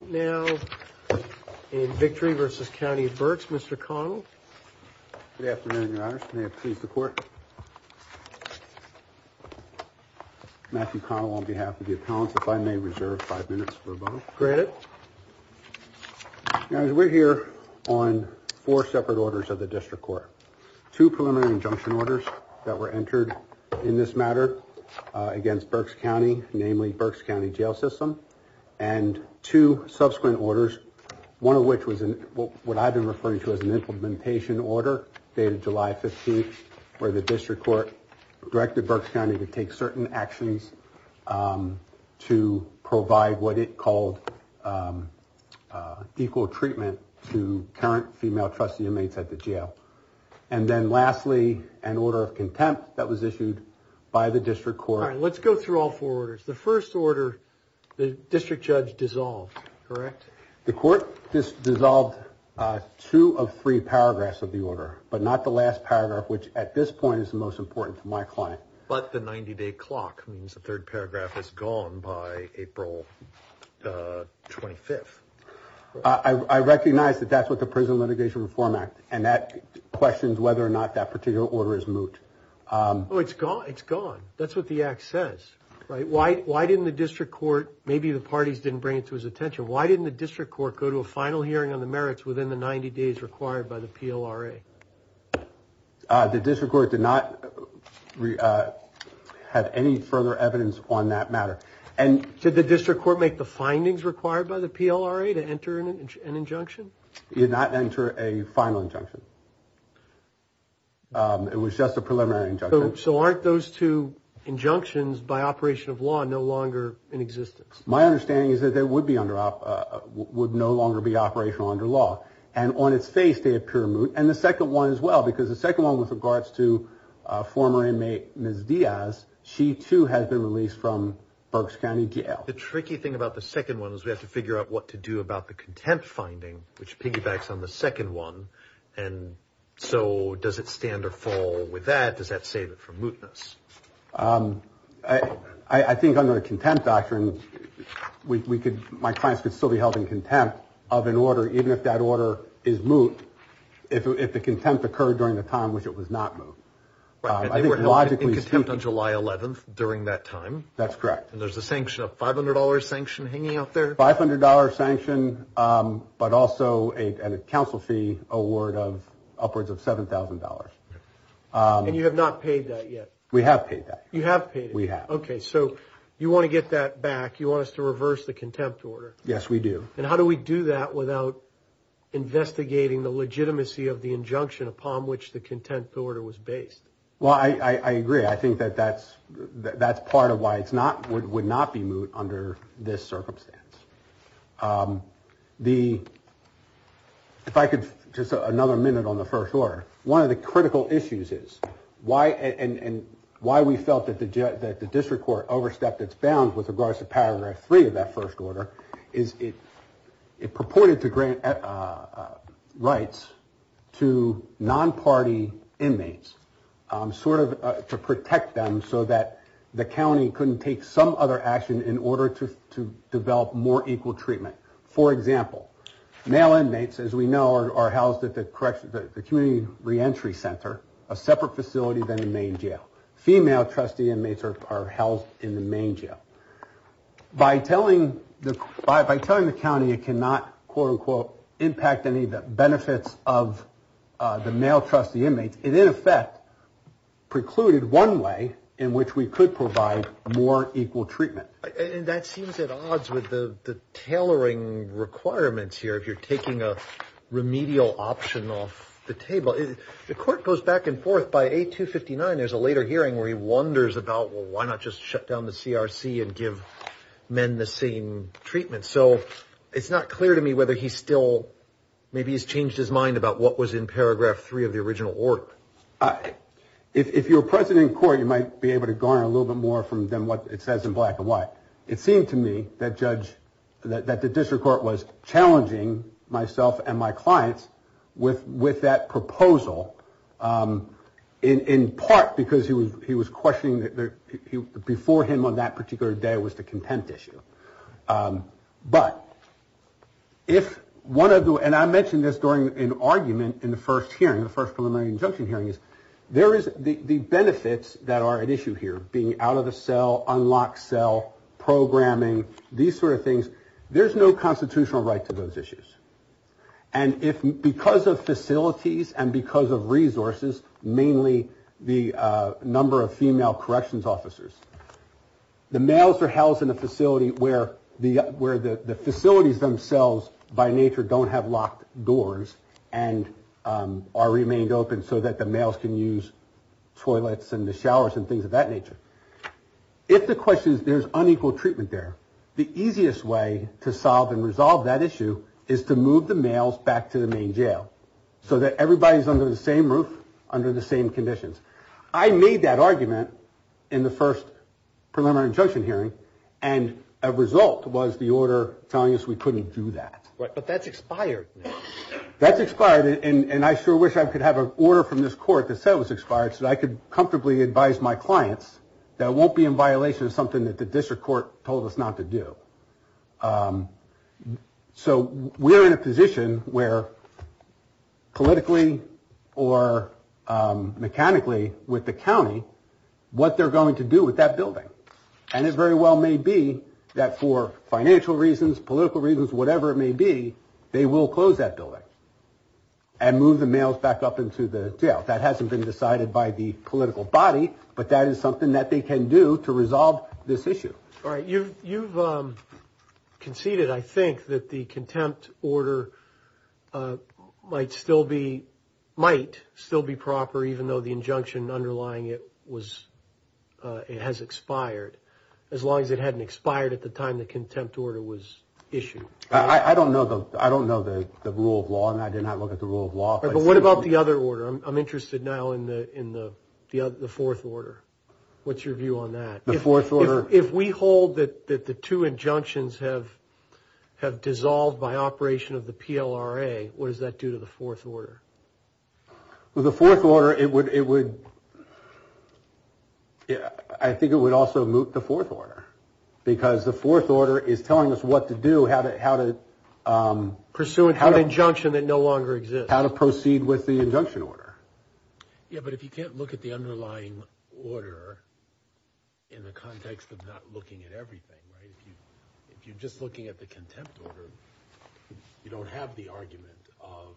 Now, in victory versus County Berks, Mr. Connell. Good afternoon, Your Honor. May it please the court. Matthew Connell on behalf of the appellants, if I may reserve five minutes for a moment. Granted. Now, as we're here on four separate orders of the district court, two preliminary injunction orders that were entered in this matter against Berks County, namely Berks County jail system and two subsequent orders, one of which was what I've been referring to as an implementation order dated July 15th, where the district court directed Berks County to take certain actions to provide what it called equal treatment to current female trustee inmates at the jail. And then lastly, an order of contempt that was issued by the district court. Let's go through all four orders. The first order, the district judge dissolved, correct? The court just dissolved two of three paragraphs of the order, but not the last paragraph, which at this point is the most important to my client. But the 90 day clock means the third paragraph is gone by April 25th. I recognize that that's what the Prison Litigation Reform Act and that questions whether or not that particular order is moot. Oh, it's gone. It's gone. That's what the act says, right? Why? Why didn't the district court? Maybe the parties didn't bring it to his attention. Why didn't the district court go to a final hearing on the merits within the 90 days required by the PLRA? The district court did not have any further evidence on that matter. And did the district court make the findings required by the PLRA to enter an injunction? You did not enter a final injunction. It was just a preliminary injunction. So aren't those two injunctions by operation of law no longer in existence? My understanding is that they would be under, would no longer be operational under law. And on its face, they appear moot. And the second one as well, because the second one with regards to former inmate Ms. Diaz, she too has been released from Berks County Jail. The tricky thing about the second one is we have to figure out what to do about the contempt finding, which piggybacks on the second one. And so does it stand or fall with that? Does that save it from mootness? I think under the contempt doctrine, we could, my clients could still be held in contempt of an order, even if that order is moot, if the contempt occurred during the time in which it was not moot. I think logically speaking. And they were held in contempt on July 11th during that time? That's correct. And there's a sanction, a $500 sanction hanging out there? $500 sanction, but also a council fee award of upwards of $7,000. And you have not paid that yet? We have paid that. You have paid it? We have. Okay, so you want to get that back. You want us to reverse the contempt order? Yes, we do. And how do we do that without investigating the legitimacy of the injunction upon which the contempt order was based? Well, I agree. I think that that's part of why it's not, would not be moot under this circumstance. The, if I could, just another minute on the first order. One of the critical issues is why, and why we felt that the district court overstepped its bounds with regards to paragraph three of that first order, is it purported to grant rights to non-party inmates, sort of to protect them so that the county couldn't take some other action in order to develop more equal treatment. For example, male inmates, as we know, are housed at the community re-entry center, a separate facility than the main jail. Female trustee inmates are housed in the main jail. By telling the county it cannot, quote unquote, impact any of the benefits of the male trustee inmates, it in effect precluded one way in which we could provide more equal treatment. And that seems at odds with the tailoring requirements here, if you're taking a remedial option off the table. The court goes back and forth. By A259, there's a later hearing where he wonders about, well, why not just shut down the CRC and give men the same treatment? So it's not clear to me whether he's still, maybe he's changed his mind about what was in paragraph three of the original order. If you're president of court, you might be able to garner a little bit more than what it says in black and white. It seemed to me that the district court was challenging myself and my clients with that proposal, in part because he was questioning, before him on that particular day was the contempt issue. But if one of the, and I mentioned this during an argument in the first hearing, the first preliminary injunction hearing is, there is the benefits that are at issue here, being out of the cell, unlocked cell, programming, these sort of things. There's no constitutional right to those issues. And if, because of facilities and because of resources, mainly the number of female corrections officers, the males are housed in a facility where the facilities themselves, by nature, don't have locked doors and are remained open so that the males can use toilets and the showers and things of that nature. If the question is, there's unequal treatment there, the easiest way to solve and resolve that issue is to move the males back to the main jail. So that everybody's under the same roof, under the same conditions. I made that argument in the first preliminary injunction hearing, and a result was the order telling us we couldn't do that. Right, but that's expired. That's expired, and I sure wish I could have an order from this court that said it was expired so that I could comfortably advise my clients that it won't be in violation of something that the district court told us not to do. So we're in a position where politically or mechanically with the county, what they're going to do with that building. And it very well may be that for financial reasons, political reasons, whatever it may be, they will close that building and move the males back up into the jail. That hasn't been decided by the political body, but that is something that they can do to resolve this issue. All right, you've conceded, I think, that the contempt order might still be proper even though the injunction underlying it has expired. As long as it hadn't expired at the time the contempt order was issued. I don't know the rule of law on that. I did not look at the rule of law. But what about the other order? I'm interested now in the fourth order. What's your view on that? The fourth order. If we hold that the two injunctions have dissolved by operation of the PLRA, what does that do to the fourth order? Well, the fourth order, it would, I think it would also moot the fourth order. Because the fourth order is telling us what to do, how to. Pursuant to an injunction that no longer exists. How to proceed with the injunction order. Yeah, but if you can't look at the underlying order in the context of not looking at everything. If you're just looking at the contempt order, you don't have the argument of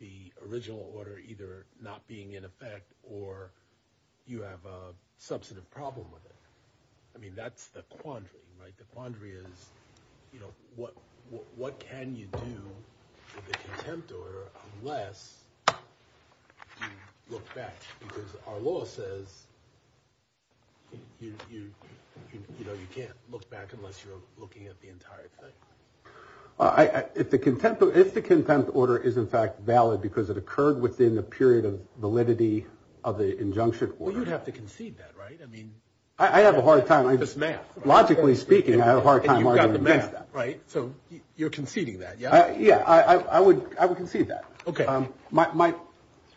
the original order either not being in effect or you have a substantive problem with it. I mean, that's the quandary. Right. The quandary is, you know, what what can you do with the contempt order? Unless you look back because our law says. You know, you can't look back unless you're looking at the entire thing. If the contempt of the contempt order is, in fact, valid because it occurred within the period of validity of the injunction. Well, you'd have to concede that. Right. I mean, I have a hard time. Logically speaking, I have a hard time. Right. So you're conceding that. Yeah. Yeah, I would. I would concede that. OK. My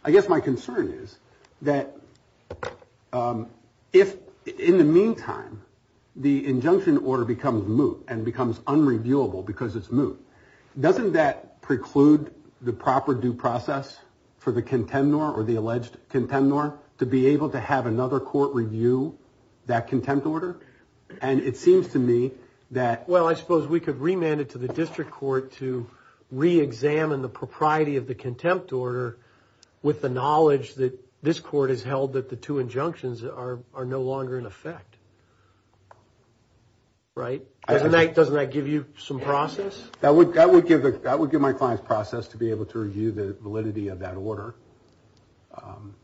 I guess my concern is that if in the meantime, the injunction order becomes moot and becomes unreviewable because it's moot. Doesn't that preclude the proper due process for the contender or the alleged contender to be able to have another court review that contempt order? And it seems to me that, well, I suppose we could remand it to the district court to reexamine the propriety of the contempt order with the knowledge that this court has held that the two injunctions are are no longer in effect. Right. Doesn't that doesn't that give you some process? That would that would give that would give my client's process to be able to review the validity of that order.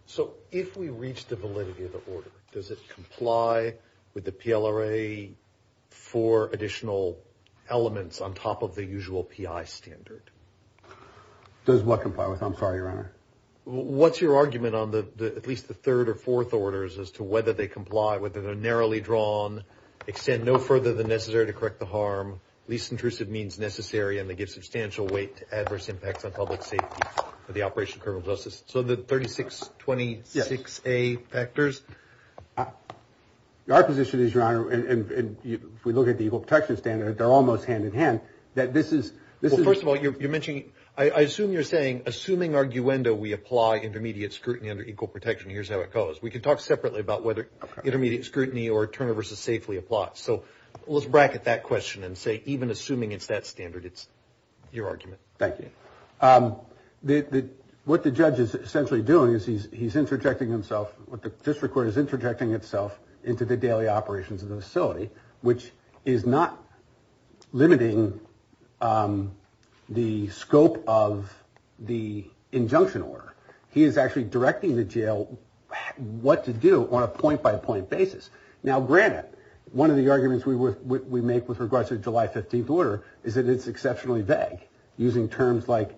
So if we reach the validity of the order, does it comply with the PLRA for additional elements on top of the usual standard? Does what comply with? I'm sorry, your honor. What's your argument on the at least the third or fourth orders as to whether they comply, whether they're narrowly drawn, extend no further than necessary to correct the harm. Least intrusive means necessary and they give substantial weight to adverse impacts on public safety for the operation of criminal justice. So the thirty six, twenty six, a factors. Our position is, your honor, and if we look at the protection standard, they're almost hand in hand. Well, first of all, you're mentioning I assume you're saying assuming arguenda, we apply intermediate scrutiny under equal protection. Here's how it goes. We can talk separately about whether intermediate scrutiny or Turner versus safely apply. So let's bracket that question and say even assuming it's that standard, it's your argument. Thank you. What the judge is essentially doing is he's he's interjecting himself. What the district court is interjecting itself into the daily operations of the facility, which is not limiting the scope of the injunction order. He is actually directing the jail what to do on a point by point basis. Now, granted, one of the arguments we make with regards to July 15th order is that it's exceptionally vague using terms like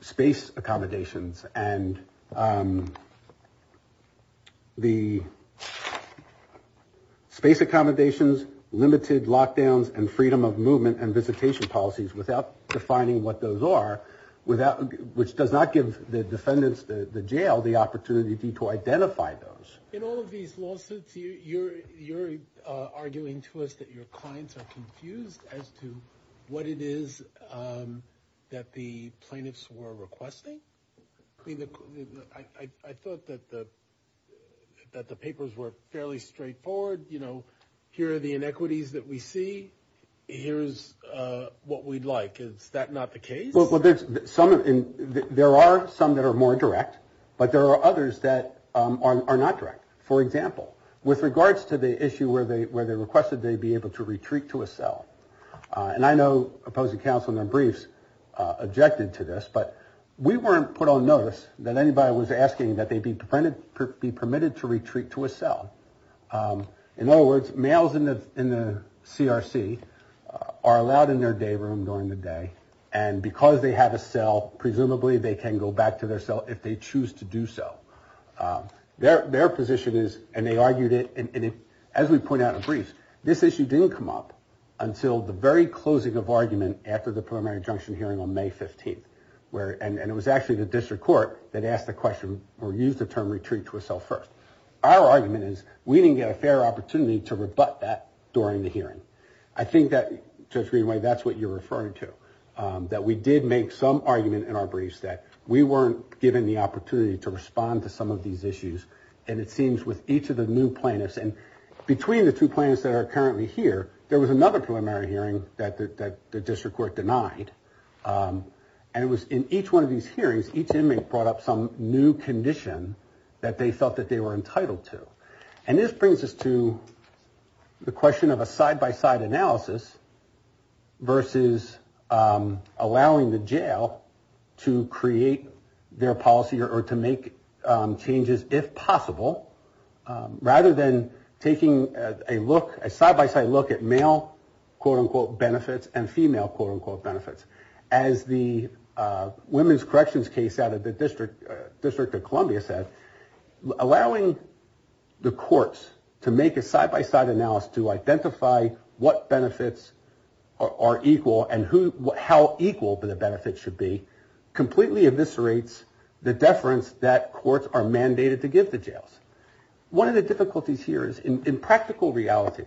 space accommodations and the space accommodations, limited lockdowns and freedom of movement and visitation policies without defining what those are without which does not give the defendants, the jail, the opportunity to identify those in all of these lawsuits. So you're you're arguing to us that your clients are confused as to what it is that the plaintiffs were requesting. I thought that the that the papers were fairly straightforward. You know, here are the inequities that we see. Here's what we'd like. Is that not the case? There are some that are more direct, but there are others that are not direct. For example, with regards to the issue where they where they requested they be able to retreat to a cell. And I know opposing counsel in their briefs objected to this, but we weren't put on notice that anybody was asking that they be printed, be permitted to retreat to a cell. In other words, males in the in the CRC are allowed in their day room during the day. And because they have a cell, presumably they can go back to their cell if they choose to do so. Their their position is and they argued it. And as we point out in briefs, this issue didn't come up until the very closing of argument after the primary injunction hearing on May 15th. Where and it was actually the district court that asked the question or use the term retreat to a cell first. Our argument is we didn't get a fair opportunity to rebut that during the hearing. I think that to a degree, that's what you're referring to, that we did make some argument in our briefs that we weren't given the opportunity to respond to some of these issues. And it seems with each of the new plaintiffs and between the two plans that are currently here, there was another preliminary hearing that the district court denied. And it was in each one of these hearings, each inmate brought up some new condition that they felt that they were entitled to. And this brings us to the question of a side by side analysis versus allowing the jail to create their policy or to make changes, if possible. Rather than taking a look, a side by side look at male quote unquote benefits and female quote unquote benefits as the women's corrections case out of the district, District of Columbia said, allowing the courts to make a side by side analysis to identify what benefits are equal and who, how equal the benefits should be completely eviscerates the deference that courts are mandated to give the jails. One of the difficulties here is in practical reality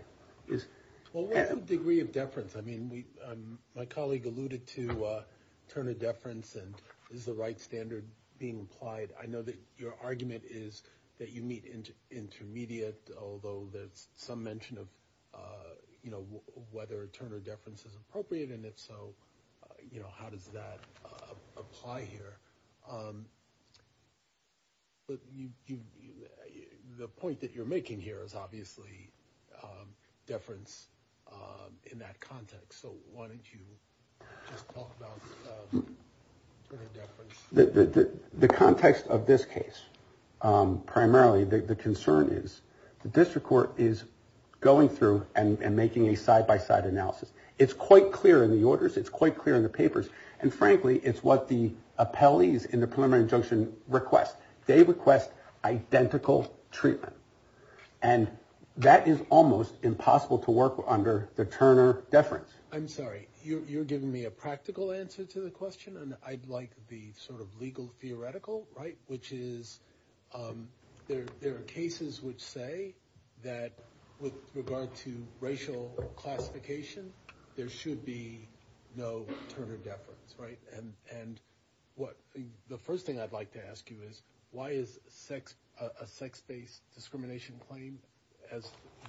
is. Well, what's the degree of deference? I mean, my colleague alluded to Turner deference and is the right standard being applied? I know that your argument is that you meet intermediate, although there's some mention of whether Turner deference is appropriate. And if so, you know, how does that apply here? The point that you're making here is obviously deference in that context. So why don't you just talk about the context of this case? Primarily, the concern is the district court is going through and making a side by side analysis. It's quite clear in the orders. It's quite clear in the papers. And frankly, it's what the appellees in the preliminary injunction request. They request identical treatment. And that is almost impossible to work under the Turner deference. I'm sorry, you're giving me a practical answer to the question. And I'd like the sort of legal theoretical right, which is there are cases which say that with regard to racial classification, there should be no Turner deference. Right. And and what the first thing I'd like to ask you is why is sex a sex based discrimination claim?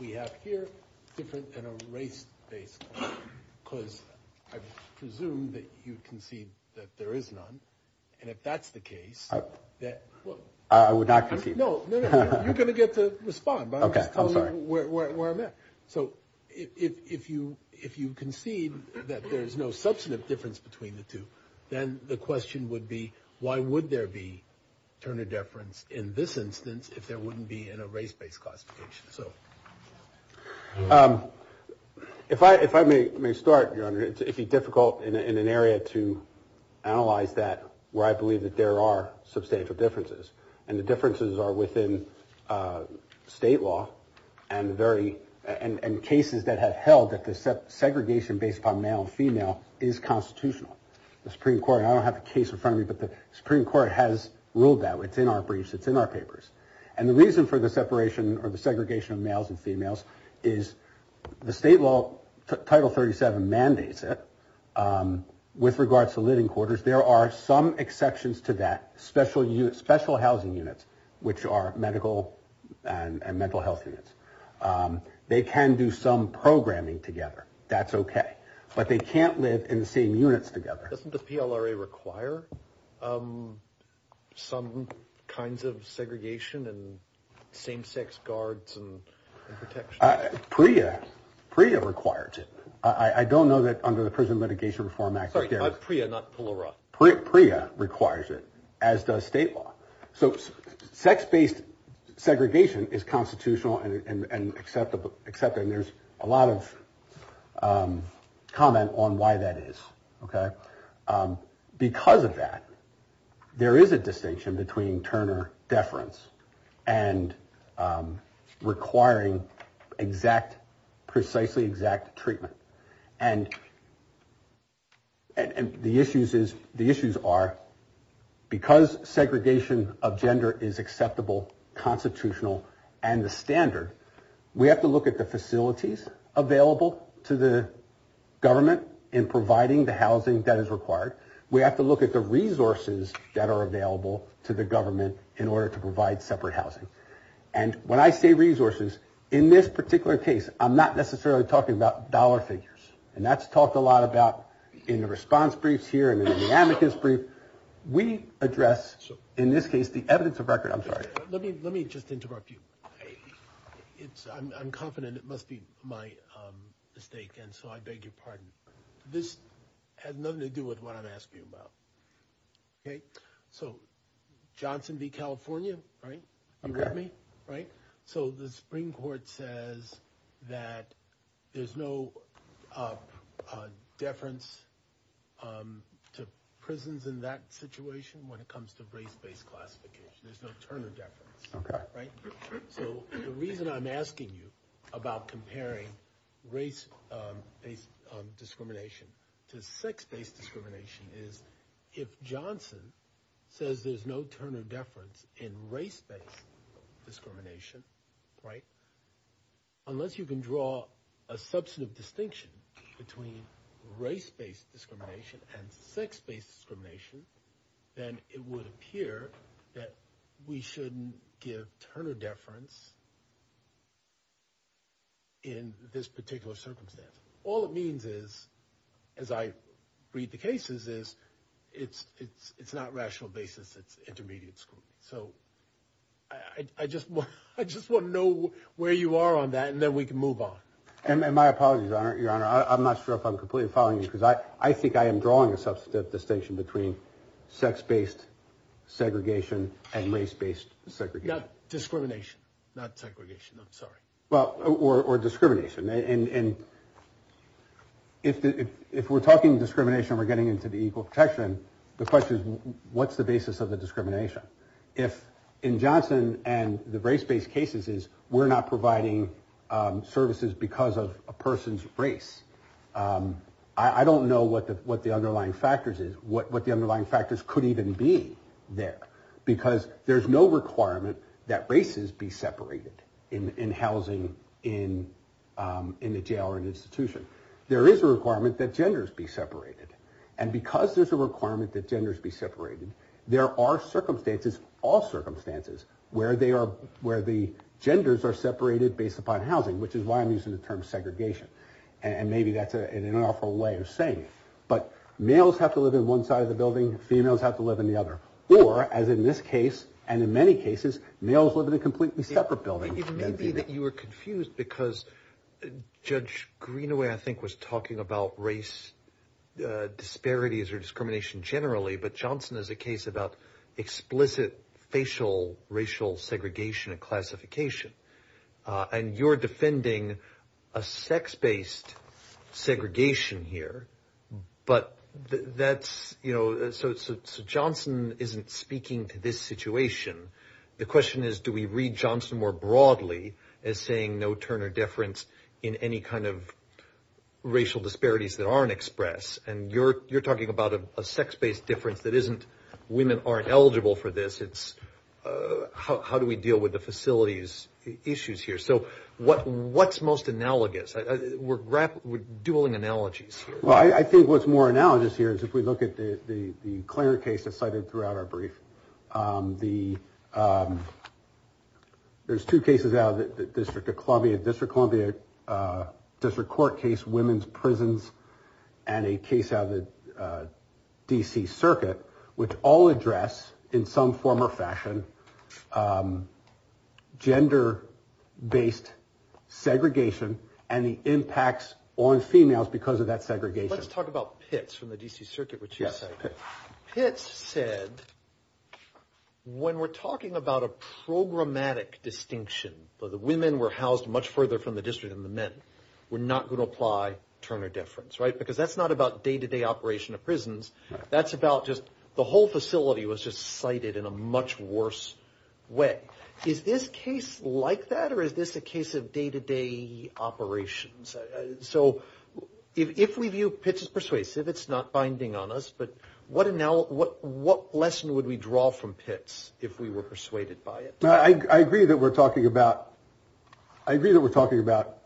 We have here different than a race based because I presume that you can see that there is none. And if that's the case that I would not know, you're going to get to respond. OK, I'm sorry. So if you if you concede that there is no substantive difference between the two, then the question would be, why would there be Turner deference? In this instance, if there wouldn't be in a race based classification. So if I if I may start, it'd be difficult in an area to analyze that where I believe that there are substantial differences. And the differences are within state law and very and cases that have held that the segregation based on male and female is constitutional. The Supreme Court, I don't have a case in front of me, but the Supreme Court has ruled that it's in our briefs, it's in our papers. And the reason for the separation or the segregation of males and females is the state law. Title 37 mandates it with regards to living quarters. There are some exceptions to that special special housing units which are medical and mental health units. They can do some programming together. That's OK. But they can't live in the same units together. Doesn't the PLRA require some kinds of segregation and same sex guards and protection? Priya Priya requires it. I don't know that under the Prison Mitigation Reform Act. Priya requires it, as does state law. So sex based segregation is constitutional and acceptable. Except there's a lot of comment on why that is. OK, because of that, there is a distinction between Turner deference and requiring exact, precisely exact treatment. And. And the issues is the issues are because segregation of gender is acceptable, constitutional and the standard, we have to look at the facilities available to the government in providing the housing that is required. We have to look at the resources that are available to the government in order to provide separate housing. And when I say resources in this particular case, I'm not necessarily talking about dollar figures. And that's talked a lot about in the response briefs here and in the amicus brief we address. So in this case, the evidence of record. I'm sorry. Let me let me just interrupt you. It's I'm confident it must be my mistake. And so I beg your pardon. This has nothing to do with what I'm asking about. So Johnson v. California. Right. OK. Right. So the Supreme Court says that there's no deference to prisons in that situation when it comes to race based classification. There's no Turner deference. Right. So the reason I'm asking you about comparing race based discrimination to sex based discrimination is if Johnson says there's no Turner deference in race based discrimination. Right. Unless you can draw a substantive distinction between race based discrimination and sex based discrimination, then it would appear that we shouldn't give Turner deference. In this particular circumstance, all it means is, as I read the cases, is it's it's it's not rational basis, it's intermediate school. So I just I just want to know where you are on that and then we can move on. And my apologies are your honor. I'm not sure if I'm completely following you, because I think I am drawing a substantive distinction between sex based segregation and race based segregation. Discrimination, not segregation. I'm sorry. Well, or discrimination. And if we're talking discrimination, we're getting into the equal protection. The question is, what's the basis of the discrimination if in Johnson and the race based cases is we're not providing services because of a person's race? I don't know what the what the underlying factors is, what what the underlying factors could even be there, because there's no requirement that races be separated in housing, in in the jail or an institution. There is a requirement that genders be separated. And because there's a requirement that genders be separated, there are circumstances, all circumstances where they are, where the genders are separated based upon housing, which is why I'm using the term segregation. And maybe that's an awful way of saying it. But males have to live in one side of the building. Females have to live in the other. Or, as in this case and in many cases, males live in a completely separate building. It may be that you are confused because Judge Greenaway, I think, was talking about race disparities or discrimination generally. But Johnson is a case about explicit facial racial segregation and classification. And you're defending a sex based segregation here. But that's, you know, so Johnson isn't speaking to this situation. The question is, do we read Johnson more broadly as saying no turner deference in any kind of racial disparities that aren't express? And you're you're talking about a sex based difference that isn't women aren't eligible for this. How do we deal with the facilities issues here? So what what's most analogous? We're grappling with dueling analogies. Well, I think what's more analogous here is if we look at the clear case decided throughout our brief, the there's two cases out of the District of Columbia, District Court case, women's prisons and a case of the D.C. Circuit, which all address in some form or fashion gender based segregation and the impacts on females because of that segregation. Let's talk about pits from the D.C. Circuit. Yes. Pits said when we're talking about a programmatic distinction, the women were housed much further from the district and the men were not going to apply Turner difference. Right. Because that's not about day to day operation of prisons. That's about just the whole facility was just cited in a much worse way. Is this case like that or is this a case of day to day operations? So if we view pits as persuasive, it's not binding on us. But what now? What what lesson would we draw from pits if we were persuaded by it? I agree that we're talking about. I agree that we're talking about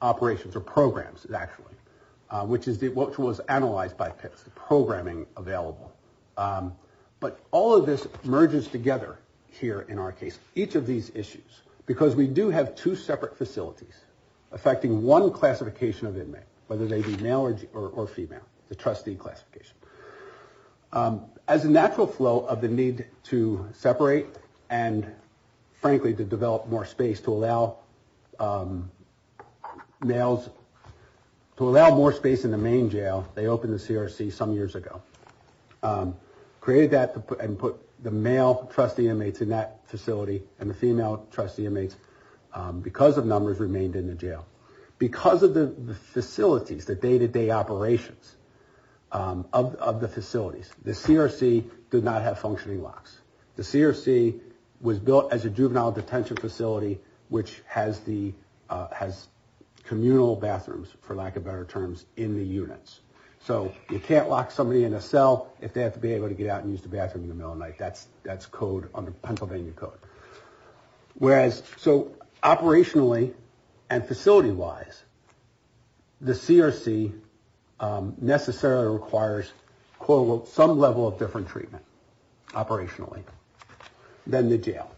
operations or programs, actually, which is what was analyzed by programming available. But all of this merges together here in our case. Each of these issues, because we do have two separate facilities affecting one classification of inmate, whether they be male or female, the trustee classification as a natural flow of the need to separate. And frankly, to develop more space to allow males to allow more space in the main jail. They opened the CRC some years ago, created that and put the male trustee inmates in that facility. And the female trustee inmates, because of numbers, remained in the jail because of the facilities, the day to day operations of the facilities. The CRC did not have functioning locks. The CRC was built as a juvenile detention facility, which has the has communal bathrooms, for lack of better terms, in the units. So you can't lock somebody in a cell if they have to be able to get out and use the bathroom in the middle of night. That's that's code under Pennsylvania code. Whereas so operationally and facility wise, the CRC necessarily requires, quote, some level of different treatment operationally than the jail.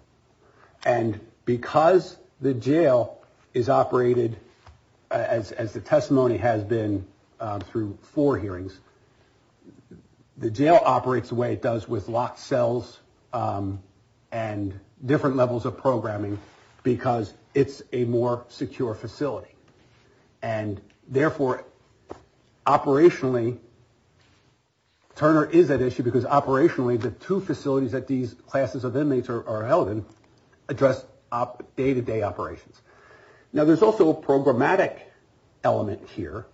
And because the jail is operated as the testimony has been through four hearings, the jail operates the way it does with locked cells and different levels of programming because it's a more secure facility. And therefore, operationally, Turner is at issue because operationally, the two facilities that these classes of inmates are held in address up day to day operations. Now, there's also a programmatic element here,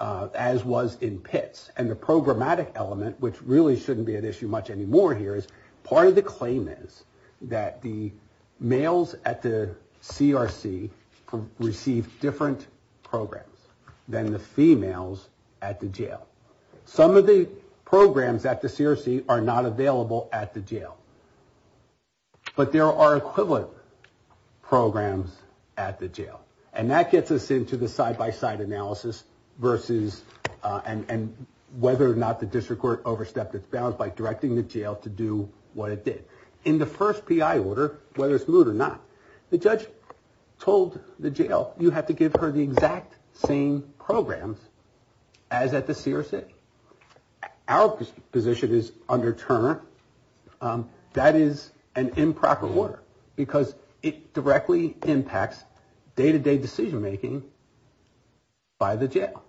as was in pits. And the programmatic element, which really shouldn't be an issue much anymore here, is part of the claim is that the males at the CRC receive different programs than the females at the jail. Some of the programs at the CRC are not available at the jail. But there are equivalent programs at the jail. And that gets us into the side by side analysis versus and whether or not the district court overstepped its bounds by directing the jail to do what it did in the first P.I. order, whether it's moot or not. The judge told the jail, you have to give her the exact same programs as at the CRC. Our position is under Turner. That is an improper order because it directly impacts day to day decision making. By the jail.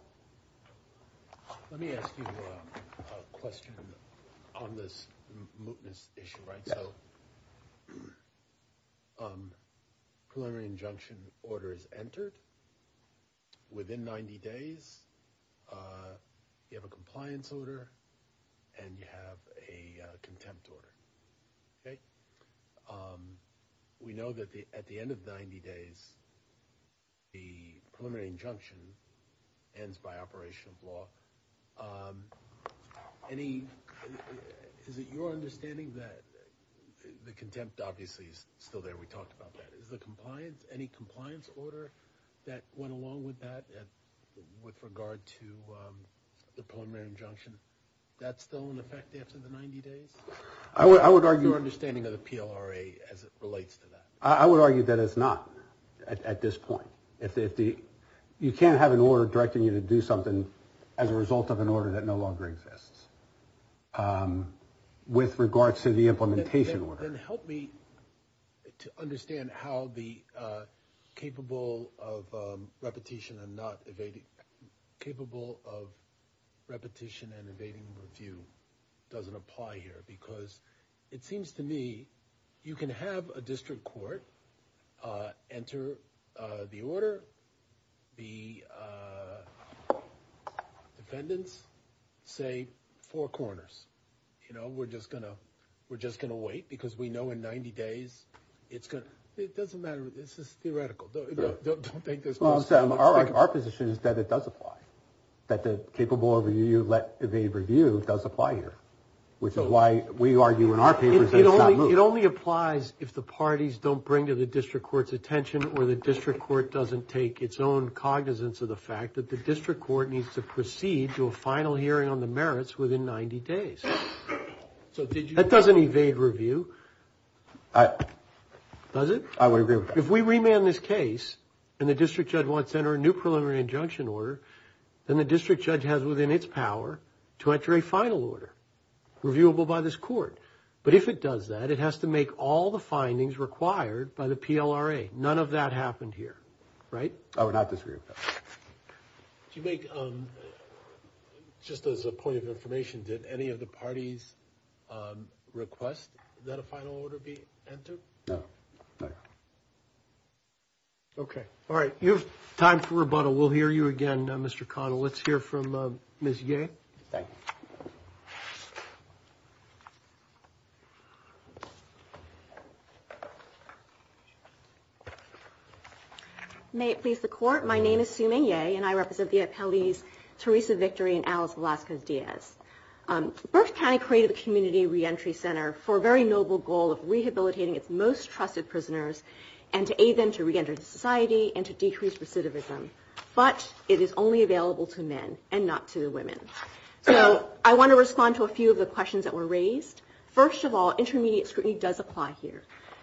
Let me ask you a question on this mootness issue. So. Preliminary injunction order is entered. Within 90 days, you have a compliance order and you have a contempt order. We know that at the end of 90 days. The preliminary injunction ends by operation of law. Any is it your understanding that the contempt obviously is still there? We talked about that is the compliance. Any compliance order that went along with that? And with regard to the preliminary injunction, that's still in effect after the 90 days. I would argue understanding of the PLRA as it relates to that. I would argue that it's not at this point. You can't have an order directing you to do something as a result of an order that no longer exists. With regards to the implementation order. Help me to understand how the capable of repetition and not capable of repetition and evading review doesn't apply here, because it seems to me you can have a district court enter the order. The defendants say four corners. You know, we're just going to we're just going to wait because we know in 90 days it's going to. It doesn't matter. This is theoretical. Don't take this. Our position is that it does apply, that the capable of review let evade review does apply here, which is why we argue in our papers. It only applies if the parties don't bring to the district court's attention or the district court doesn't take its own cognizance of the fact that the district court needs to proceed to a final hearing on the merits within 90 days. So that doesn't evade review. Does it? I would agree with if we remand this case and the district judge wants to enter a new preliminary injunction order, then the district judge has within its power to enter a final order reviewable by this court. But if it does that, it has to make all the findings required by the PLRA. None of that happened here. Right. I would not disagree. You make just as a point of information, did any of the parties request that a final order be entered? No. OK. All right. You've time for rebuttal. We'll hear you again, Mr. Connell. Let's hear from Miss Gay. May it please the court. My name is Suman. Yay. And I represent the appellees. Teresa Victory and Alice Velasquez Diaz. Berk County created a community reentry center for a very noble goal of rehabilitating its most trusted prisoners and to aid them to reenter society and to decrease recidivism. But it is only available to men and not to women. So I want to respond to a few of the questions that were raised. First of all, intermediate scrutiny does apply here.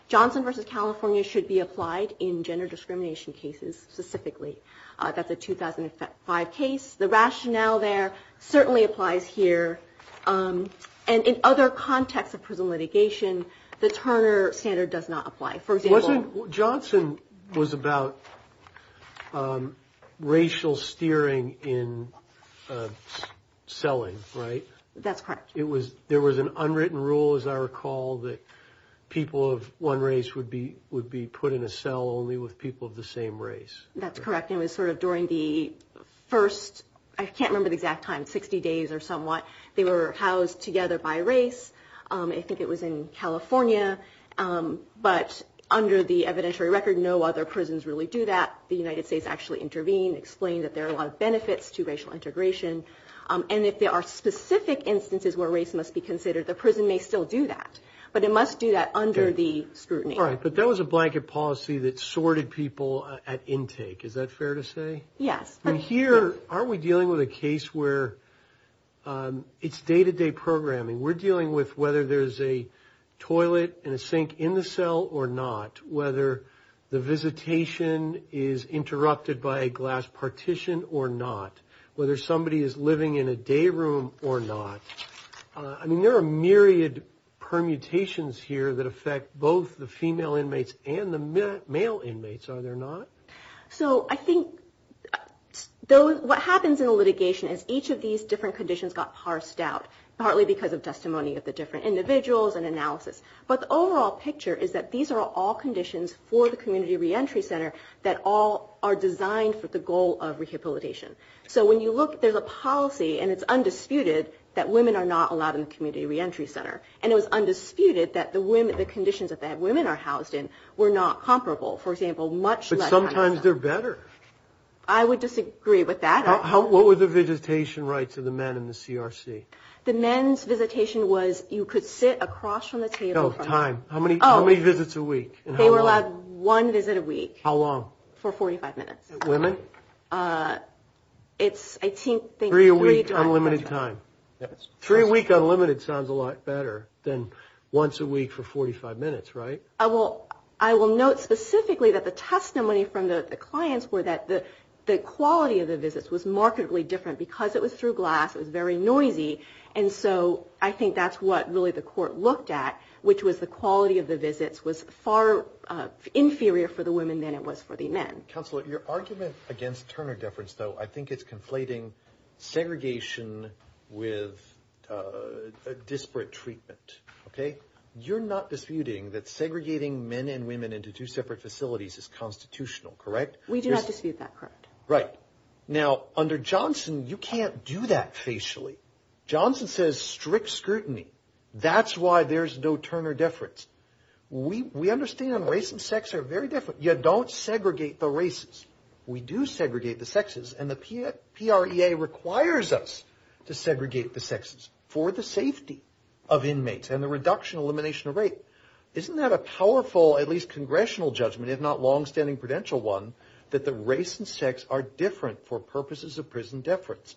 Johnson versus California should be applied in gender discrimination cases specifically. That's a 2005 case. The rationale there certainly applies here. And in other contexts of prison litigation, the Turner standard does not apply. For example, Johnson was about racial steering in selling. Right. That's correct. It was. There was an unwritten rule, as I recall, that people of one race would be would be put in a cell only with people of the same race. That's correct. It was sort of during the first. I can't remember the exact time. Sixty days or somewhat. They were housed together by race. I think it was in California. But under the evidentiary record, no other prisons really do that. The United States actually intervened, explained that there are a lot of benefits to racial integration. And if there are specific instances where race must be considered, the prison may still do that. But it must do that under the scrutiny. All right. But that was a blanket policy that sorted people at intake. Is that fair to say? Yes. Here are we dealing with a case where it's day to day programming. We're dealing with whether there is a toilet and a sink in the cell or not. Whether the visitation is interrupted by a glass partition or not. Whether somebody is living in a day room or not. I mean, there are myriad permutations here that affect both the female inmates and the male inmates, are there not? So I think what happens in a litigation is each of these different conditions got parsed out, partly because of testimony of the different individuals and analysis. But the overall picture is that these are all conditions for the community reentry center that all are designed for the goal of rehabilitation. So when you look, there's a policy, and it's undisputed, that women are not allowed in the community reentry center. And it was undisputed that the conditions that women are housed in were not comparable. For example, much less... But sometimes they're better. I would disagree with that. What were the visitation rights of the men in the CRC? The men's visitation was you could sit across from the table... No, time. How many visits a week? They were allowed one visit a week. How long? For 45 minutes. Women? It's, I think... Three a week, unlimited time. Three a week, unlimited sounds a lot better than once a week for 45 minutes, right? I will note specifically that the testimony from the clients were that the quality of the visits was markedly different. Because it was through glass, it was very noisy. And so I think that's what really the court looked at, which was the quality of the visits was far inferior for the women than it was for the men. Counselor, your argument against Turner deference, though, I think it's conflating segregation with disparate treatment. Okay? You're not disputing that segregating men and women into two separate facilities is constitutional, correct? We do not dispute that, correct. Right. Now, under Johnson, you can't do that facially. Johnson says strict scrutiny. That's why there's no Turner deference. We understand race and sex are very different. You don't segregate the races. We do segregate the sexes. And the PREA requires us to segregate the sexes for the safety of inmates and the reduction, elimination of rape. Isn't that a powerful, at least congressional judgment, if not longstanding prudential one, that the race and sex are different for purposes of prison deference?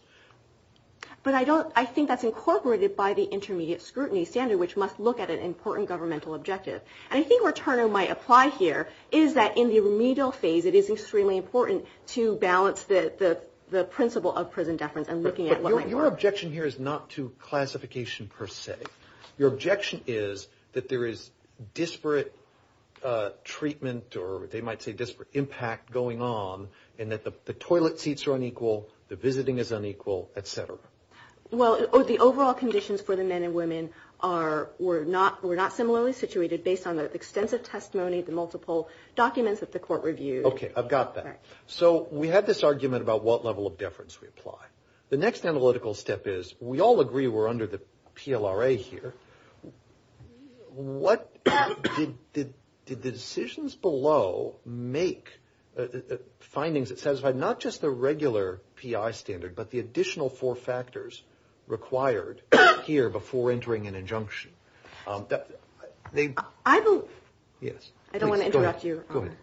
But I think that's incorporated by the intermediate scrutiny standard, which must look at an important governmental objective. And I think where Turner might apply here is that in the remedial phase, it is extremely important to balance the principle of prison deference and looking at what might work. But your objection here is not to classification per se. Your objection is that there is disparate treatment, or they might say disparate impact, going on, and that the toilet seats are unequal, the visiting is unequal, et cetera. Well, the overall conditions for the men and women were not similarly situated, based on the extensive testimony, the multiple documents that the court reviewed. Okay, I've got that. So we had this argument about what level of deference we apply. The next analytical step is we all agree we're under the PLRA here. Did the decisions below make findings that satisfied not just the regular PI standard, but the additional four factors required here before entering an injunction? I don't want to interrupt you. Go ahead.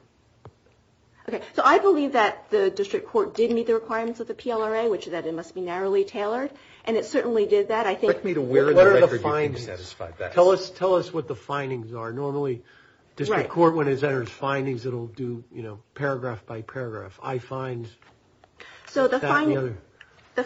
Okay, so I believe that the district court did meet the requirements of the PLRA, which is that it must be narrowly tailored, and it certainly did that. Correct me to where in the record you think satisfied that. Tell us what the findings are. Normally district court, when it enters findings, it will do paragraph by paragraph. So the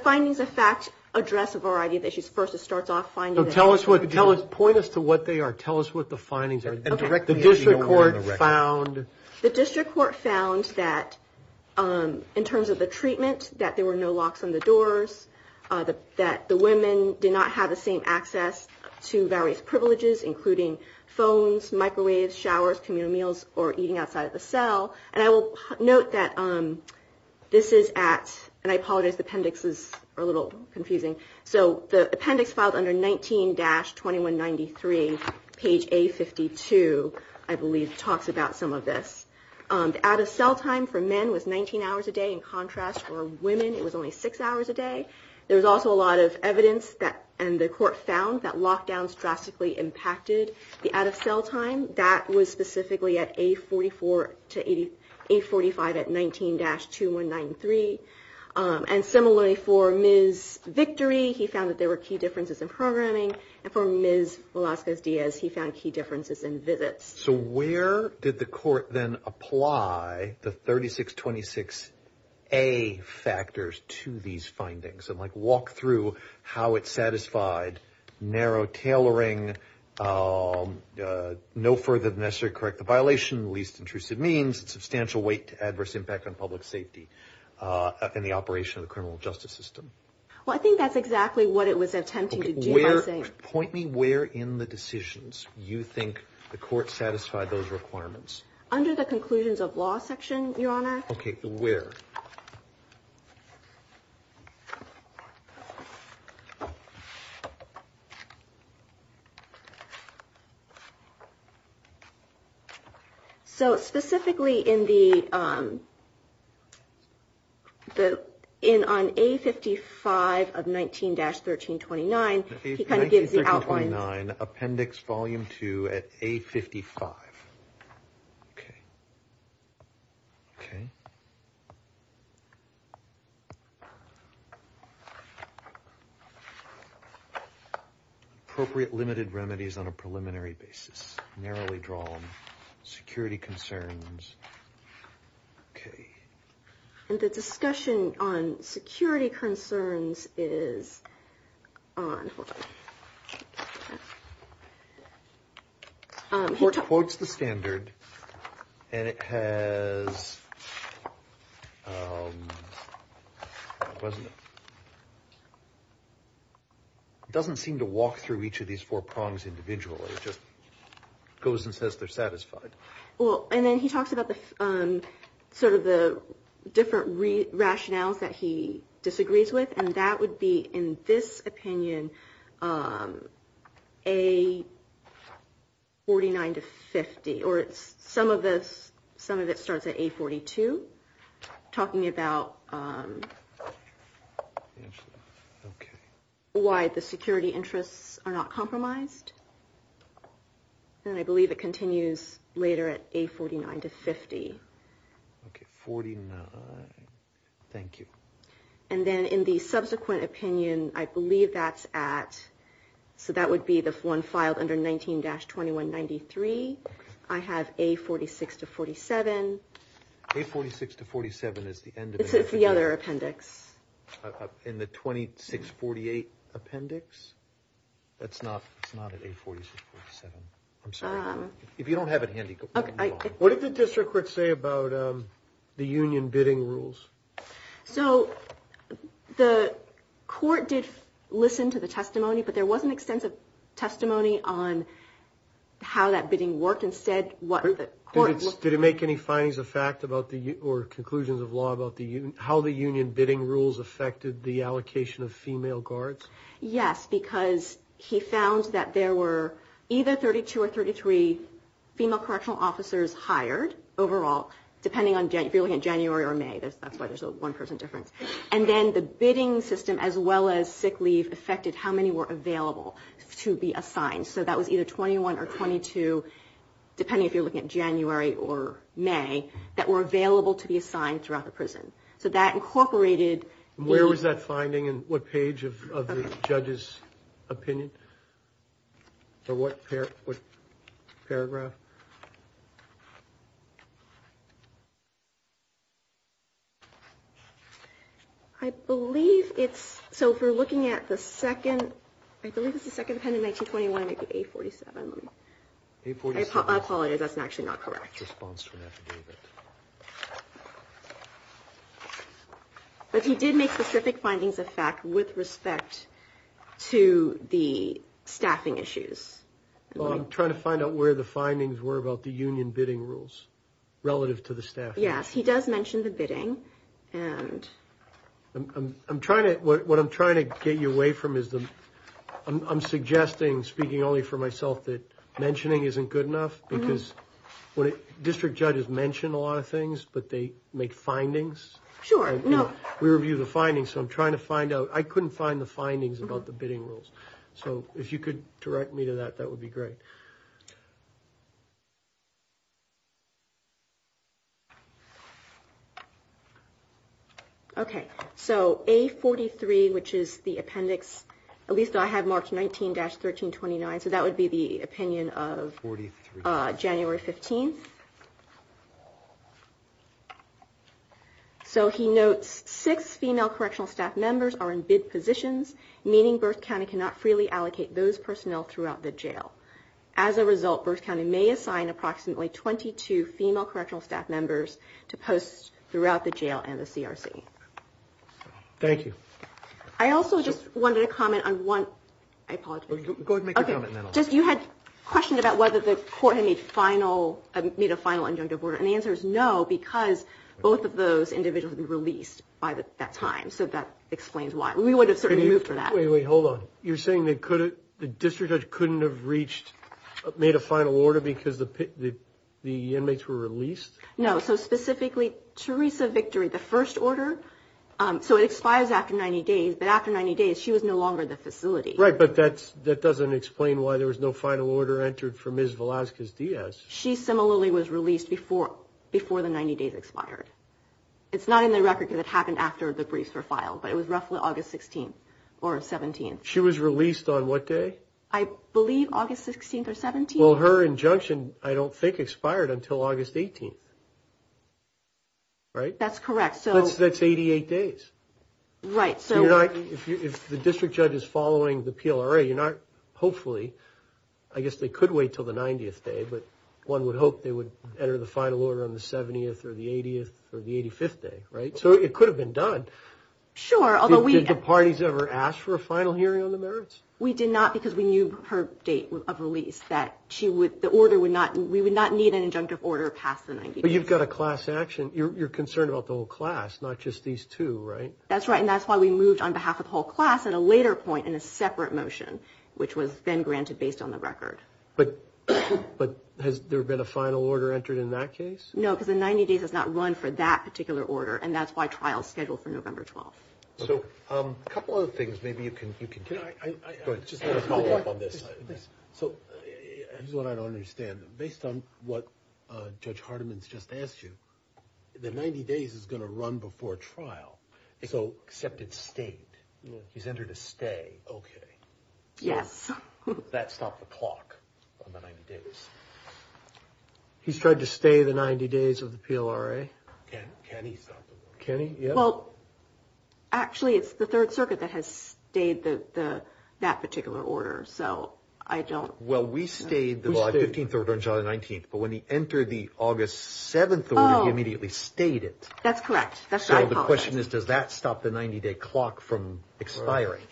findings, in fact, address a variety of issues. First, it starts off finding. Point us to what they are. Tell us what the findings are. The district court found. The district court found that in terms of the treatment, that there were no locks on the doors, that the women did not have the same access to various privileges, including phones, microwaves, showers, communal meals, or eating outside of the cell. And I will note that this is at, and I apologize, the appendix is a little confusing. So the appendix filed under 19-2193, page A52, I believe, talks about some of this. The out-of-cell time for men was 19 hours a day. In contrast, for women it was only six hours a day. There was also a lot of evidence, and the court found, that lockdowns drastically impacted the out-of-cell time. That was specifically at A44 to A45 at 19-2193. And similarly for Ms. Victory, he found that there were key differences in programming. And for Ms. Velazquez-Diaz, he found key differences in visits. So where did the court then apply the 3626A factors to these findings? Walk through how it satisfied narrow tailoring, no further than necessary to correct the violation, least intrusive means, substantial weight to adverse impact on public safety, and the operation of the criminal justice system. Well, I think that's exactly what it was attempting to do. Point me where in the decisions you think the court satisfied those requirements. Under the conclusions of law section, Your Honor. Okay, where? So specifically in the, on A55 of 19-1329, he kind of gives the outline. 19-1329, appendix volume 2 at A55. Appropriate limited remedies on a preliminary basis, narrowly drawn, security concerns. Okay. And the discussion on security concerns is on, hold on. He quotes the standard, and it has, it doesn't seem to walk through each of these four prongs individually. It just goes and says they're satisfied. Well, and then he talks about sort of the different rationales that he disagrees with, and that would be, in this opinion, A49-50, or some of it starts at A42, talking about why the security interests are not compromised. And I believe it continues later at A49-50. Okay, 49, thank you. And then in the subsequent opinion, I believe that's at, so that would be the one filed under 19-2193. I have A46-47. A46-47 is the end of it. It's the other appendix. In the 2648 appendix? That's not, it's not at A46-47. I'm sorry. If you don't have it handy, move on. What did the district court say about the union bidding rules? So the court did listen to the testimony, but there wasn't extensive testimony on how that bidding worked. Instead, what the court looked at. Did it make any findings of fact about the, or conclusions of law, about how the union bidding rules affected the allocation of female guards? Yes, because he found that there were either 32 or 33 female correctional officers hired overall, depending on if you're looking at January or May. That's why there's a 1% difference. And then the bidding system, as well as sick leave, affected how many were available to be assigned. So that was either 21 or 22, depending if you're looking at January or May, that were available to be assigned throughout the prison. So that incorporated. Where was that finding, and what page of the judge's opinion? Or what paragraph? I believe it's, so if we're looking at the second, I believe it's the second pen in 1921, maybe 847. I apologize, that's actually not correct. But he did make specific findings of fact with respect to the staffing issues. I'm trying to find out where the findings were about the union bidding rules relative to the staff. Yes, he does mention the bidding. What I'm trying to get you away from is, I'm suggesting, speaking only for myself, that mentioning isn't good enough. Because district judges mention a lot of things, but they make findings. Sure. We review the findings, so I'm trying to find out. I couldn't find the findings about the bidding rules. So if you could direct me to that, that would be great. Okay, so A43, which is the appendix, at least I have marked 19-1329, so that would be the opinion of January 15th. So he notes, six female correctional staff members are in bid positions, meaning Berks County cannot freely allocate those personnel throughout the jail. As a result, Berks County may assign approximately 22 female correctional staff members to post throughout the jail and the CRC. Thank you. I also just wanted to comment on one – I apologize. Go ahead and make your comment, and then I'll stop. You had a question about whether the court had made a final injunctive order, and the answer is no, because both of those individuals had been released by that time. So that explains why. We would have certainly moved for that. Wait, wait, hold on. You're saying the district judge couldn't have reached – made a final order because the inmates were released? No, so specifically, Teresa Victory, the first order, so it expires after 90 days, but after 90 days, she was no longer the facility. Right, but that doesn't explain why there was no final order entered for Ms. Velazquez-Diaz. She similarly was released before the 90 days expired. It's not in the record because it happened after the briefs were filed, but it was roughly August 16th or 17th. She was released on what day? I believe August 16th or 17th. Well, her injunction, I don't think, expired until August 18th, right? That's correct. That's 88 days. Right, so – If the district judge is following the PLRA, hopefully – I guess they could wait until the 90th day, but one would hope they would enter the final order on the 70th or the 80th or the 85th day, right? So it could have been done. Sure, although we – Did the parties ever ask for a final hearing on the merits? We did not because we knew her date of release, that she would – the order would not – we would not need an injunctive order past the 90th day. But you've got a class action. You're concerned about the whole class, not just these two, right? That's right, and that's why we moved on behalf of the whole class at a later point in a separate motion, which was then granted based on the record. But has there been a final order entered in that case? No, because the 90 days has not run for that particular order, and that's why trial is scheduled for November 12th. So a couple other things maybe you can – I just want to follow up on this. So here's what I don't understand. Based on what Judge Hardiman's just asked you, the 90 days is going to run before trial. So except it stayed. He's entered a stay. Okay. Yes. Does that stop the clock on the 90 days? He's tried to stay the 90 days of the PLRA. Can he stop the clock? Can he? Well, actually, it's the Third Circuit that has stayed that particular order. So I don't – Well, we stayed the 15th order until the 19th. But when he entered the August 7th order, he immediately stayed it. That's correct. So the question is, does that stop the 90-day clock from expiring?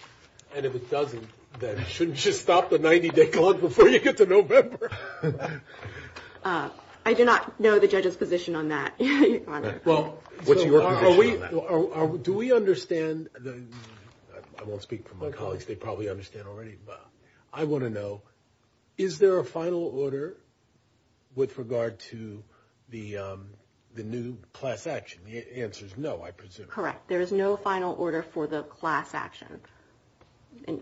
And if it doesn't, then shouldn't you stop the 90-day clock before you get to November? I do not know the judge's position on that. Well, what's your position on that? Do we understand the – I won't speak for my colleagues. They probably understand already. I want to know, is there a final order with regard to the new class action? The answer is no, I presume. Correct. There is no final order for the class action.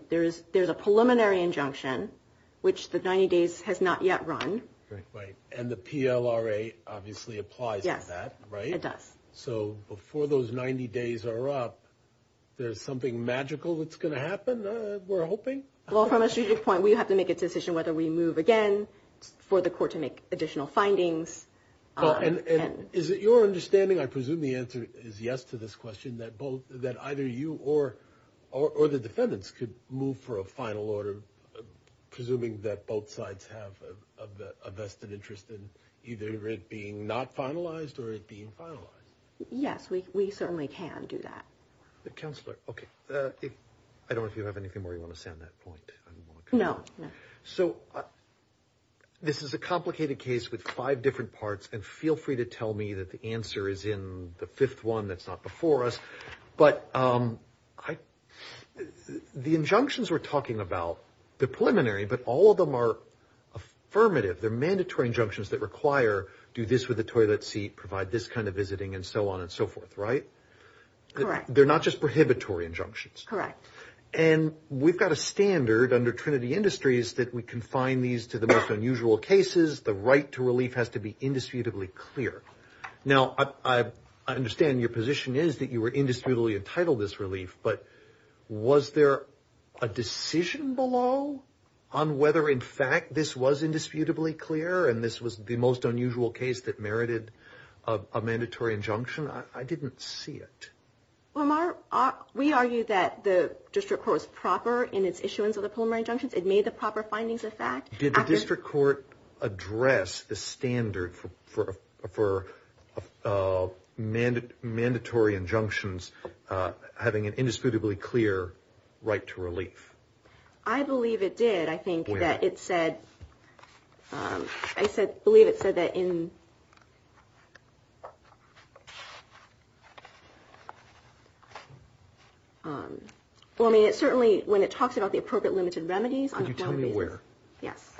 There's a preliminary injunction, which the 90 days has not yet run. Right. And the PLRA obviously applies to that, right? Yes, it does. So before those 90 days are up, there's something magical that's going to happen, we're hoping? Well, from a strategic point, we have to make a decision whether we move again for the court to make additional findings. Is it your understanding, I presume the answer is yes to this question, that either you or the defendants could move for a final order, presuming that both sides have a vested interest in either it being not finalized or it being finalized? Yes, we certainly can do that. Counselor, okay. I don't know if you have anything more you want to say on that point. No, no. So this is a complicated case with five different parts, and feel free to tell me that the answer is in the fifth one that's not before us. But the injunctions we're talking about, the preliminary, but all of them are affirmative. They're mandatory injunctions that require do this with a toilet seat, provide this kind of visiting, and so on and so forth, right? Correct. They're not just prohibitory injunctions. Correct. And we've got a standard under Trinity Industries that we confine these to the most unusual cases. The right to relief has to be indisputably clear. Now, I understand your position is that you were indisputably entitled this relief, but was there a decision below on whether, in fact, this was indisputably clear and this was the most unusual case that merited a mandatory injunction? I didn't see it. Well, we argue that the district court was proper in its issuance of the preliminary injunctions. It made the proper findings of fact. Did the district court address the standard for mandatory injunctions having an indisputably clear right to relief? I believe it did. Where? I believe it said that in – well, I mean, it certainly – when it talks about the appropriate limited remedies, on one basis – Could you tell me where? Yes.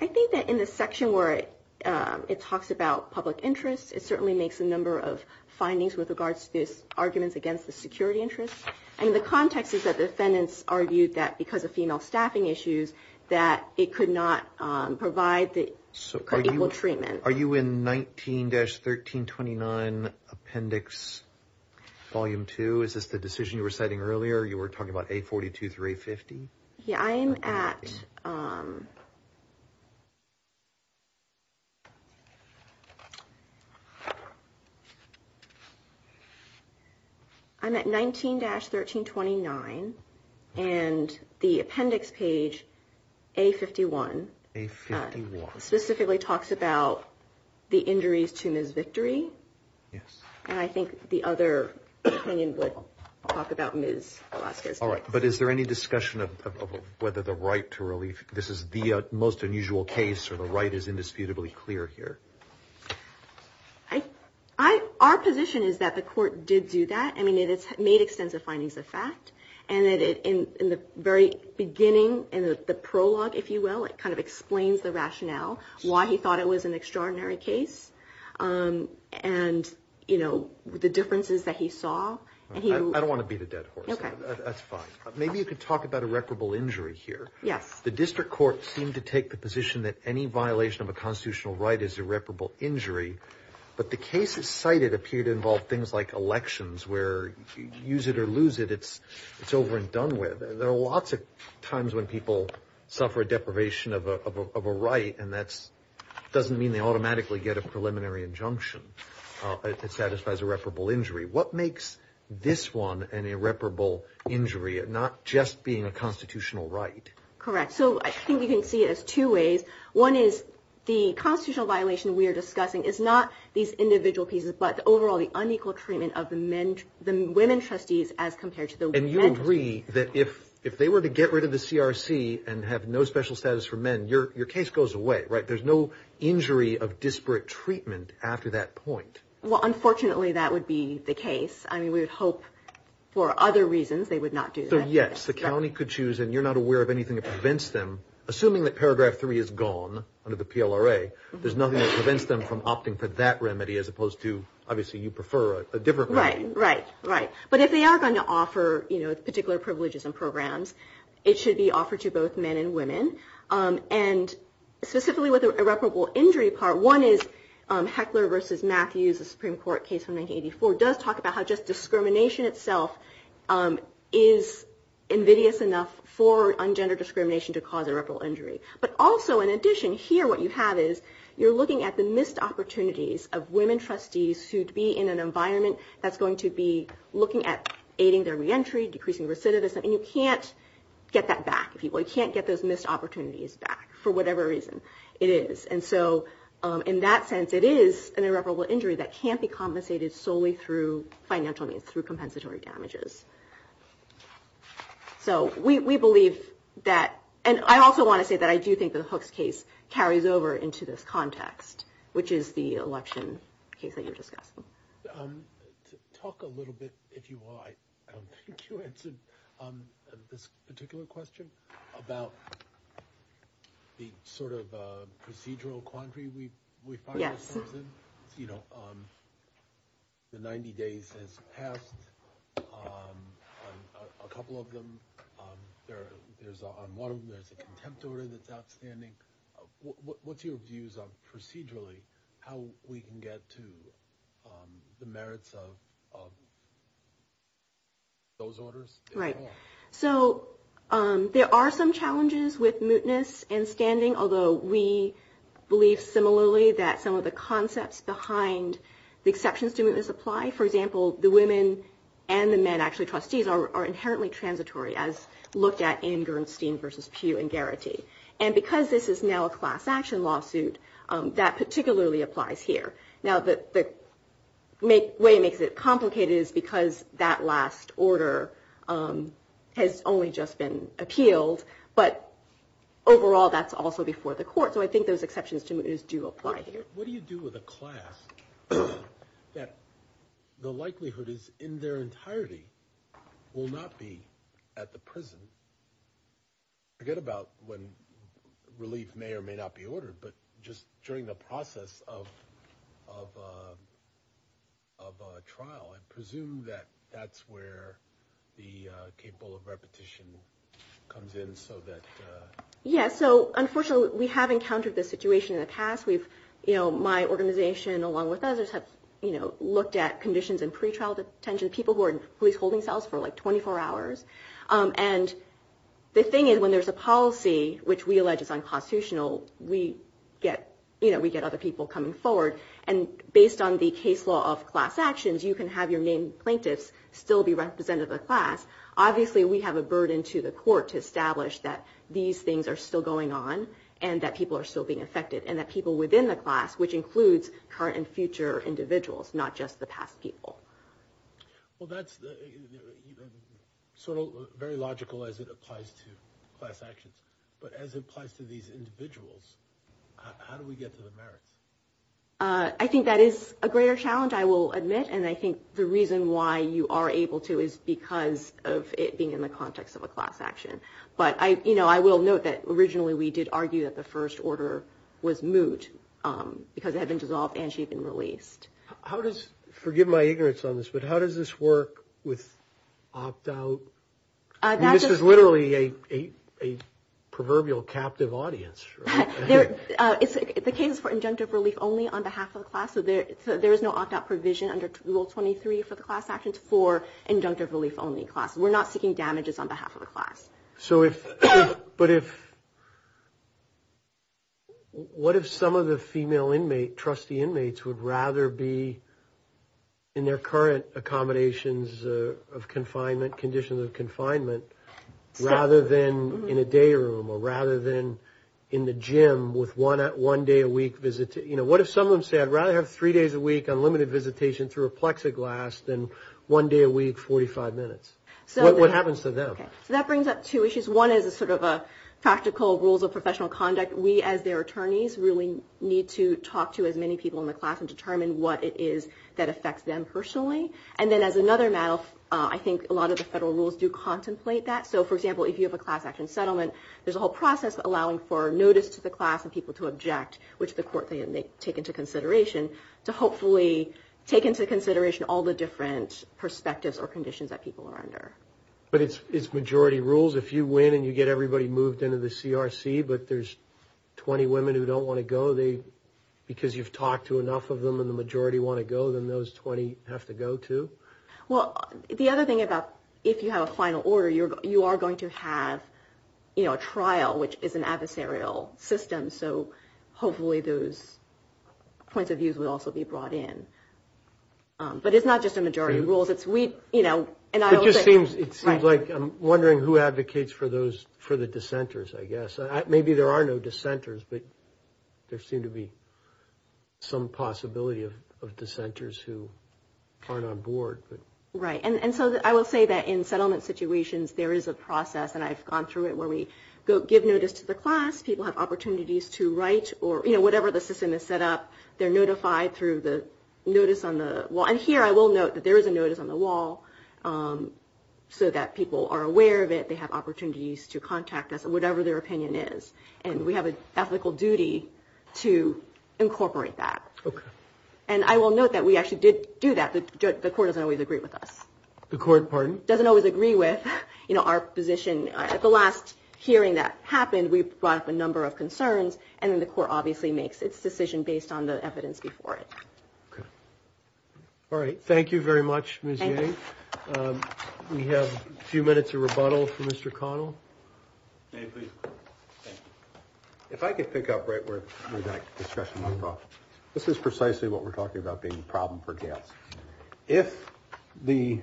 I think that in the section where it talks about public interest, it certainly makes a number of findings with regards to these arguments against the security interest. And the context is that the defendants argued that because of female staffing issues, that it could not provide for equal treatment. Are you in 19-1329 Appendix Volume 2? Is this the decision you were citing earlier? You were talking about A42 through A50? Yeah, I am at – I'm at 19-1329, and the appendix page A51 – A51. – specifically talks about the injuries to Ms. Victory. Yes. And I think the other opinion would talk about Ms. Velasquez. All right, but is there any discussion of whether the right to relief – this is the most unusual case, or the right is indisputably clear here? Our position is that the court did do that. I mean, it's made extensive findings of fact. And in the very beginning, in the prologue, if you will, it kind of explains the rationale, why he thought it was an extraordinary case, and, you know, the differences that he saw. I don't want to beat a dead horse. That's fine. Maybe you could talk about irreparable injury here. Yes. The district court seemed to take the position that any violation of a constitutional right is irreparable injury, but the cases cited appear to involve things like elections, where you use it or lose it, it's over and done with. There are lots of times when people suffer a deprivation of a right, and that doesn't mean they automatically get a preliminary injunction. It satisfies irreparable injury. What makes this one an irreparable injury, not just being a constitutional right? Correct. So I think you can see it as two ways. One is the constitutional violation we are discussing is not these individual pieces, but overall the unequal treatment of the women trustees as compared to the men trustees. And you agree that if they were to get rid of the CRC and have no special status for men, your case goes away, right? There's no injury of disparate treatment after that point. Well, unfortunately, that would be the case. I mean, we would hope for other reasons they would not do that. So, yes, the county could choose, and you're not aware of anything that prevents them. Assuming that Paragraph 3 is gone under the PLRA, there's nothing that prevents them from opting for that remedy as opposed to, obviously, you prefer a different remedy. Right, right, right. But if they are going to offer particular privileges and programs, it should be offered to both men and women. And specifically with the irreparable injury part, one is Heckler v. Matthews, a Supreme Court case from 1984, does talk about how just discrimination itself is invidious enough for ungendered discrimination to cause irreparable injury. But also, in addition, here what you have is you're looking at the missed opportunities of women trustees who'd be in an environment that's going to be looking at aiding their reentry, decreasing recidivism, and you can't get that back. You can't get those missed opportunities back for whatever reason it is. And so in that sense, it is an irreparable injury that can't be compensated solely through financial means, through compensatory damages. So we believe that, and I also want to say that I do think that Hook's case carries over into this context, which is the election case that you were discussing. Talk a little bit, if you will, I don't think you answered this particular question, about the sort of procedural quandary we find ourselves in. You know, the 90 days has passed, a couple of them. On one of them there's a contempt order that's outstanding. What's your views on procedurally how we can get to the merits of those orders? Right. So there are some challenges with mootness and standing, although we believe similarly that some of the concepts behind the exceptions to mootness apply. For example, the women and the men actually trustees are inherently transitory, as looked at in Gernstein v. Pew and Garrity. And because this is now a class action lawsuit, that particularly applies here. Now the way it makes it complicated is because that last order has only just been appealed, but overall that's also before the court. So I think those exceptions to mootness do apply here. What do you do with a class that the likelihood is in their entirety will not be at the prison? I forget about when relief may or may not be ordered, but just during the process of trial, I presume that that's where the capable of repetition comes in so that. Yes. So unfortunately we have encountered this situation in the past. My organization, along with others, have looked at conditions in pretrial detention, people who are in police holding cells for like 24 hours. And the thing is when there's a policy, which we allege is unconstitutional, we get other people coming forward. And based on the case law of class actions, you can have your main plaintiffs still be represented in the class. Obviously we have a burden to the court to establish that these things are still going on and that people are still being affected and that people within the class, which includes current and future individuals, not just the past people. Well, that's sort of very logical as it applies to class actions. But as it applies to these individuals, how do we get to the merits? I think that is a greater challenge, I will admit. And I think the reason why you are able to is because of it being in the context of a class action. But, you know, I will note that originally we did argue that the first order was moot because it had been dissolved and she had been released. How does, forgive my ignorance on this, but how does this work with opt-out? This is literally a proverbial captive audience. The case is for injunctive relief only on behalf of the class, so there is no opt-out provision under Rule 23 for the class actions for injunctive relief only classes. We're not seeking damages on behalf of the class. So if, but if, what if some of the female inmate, trustee inmates, would rather be in their current accommodations of confinement, conditions of confinement, rather than in a day room or rather than in the gym with one day a week visit. You know, what if some of them said, I'd rather have three days a week unlimited visitation through a plexiglass than one day a week, 45 minutes? What happens to them? Okay, so that brings up two issues. One is a sort of a practical rules of professional conduct. We, as their attorneys, really need to talk to as many people in the class and determine what it is that affects them personally. And then as another matter, I think a lot of the federal rules do contemplate that. So, for example, if you have a class action settlement, there's a whole process allowing for notice to the class and people to object, which the court may take into consideration, to hopefully take into consideration all the different perspectives or conditions that people are under. But it's majority rules. If you win and you get everybody moved into the CRC, but there's 20 women who don't want to go, because you've talked to enough of them and the majority want to go, then those 20 have to go, too? Well, the other thing about if you have a final order, you are going to have, you know, a trial, which is an adversarial system. So hopefully those points of views will also be brought in. But it's not just a majority rule. It just seems like I'm wondering who advocates for the dissenters, I guess. Maybe there are no dissenters, but there seems to be some possibility of dissenters who aren't on board. Right. And so I will say that in settlement situations, there is a process, and I've gone through it, where we give notice to the class, people have opportunities to write, or, you know, whatever the system is set up, they're notified through the notice on the wall. And here I will note that there is a notice on the wall, so that people are aware of it, they have opportunities to contact us, whatever their opinion is. And we have an ethical duty to incorporate that. Okay. And I will note that we actually did do that. The court doesn't always agree with us. The court, pardon? Doesn't always agree with, you know, our position. At the last hearing that happened, we brought up a number of concerns, and then the court obviously makes its decision based on the evidence before it. Okay. All right. Thank you very much, Ms. Yeh. Thank you. We have a few minutes of rebuttal from Mr. Connell. May I please? Thank you. If I could pick up right where the discussion went off, this is precisely what we're talking about being a problem for guests. If the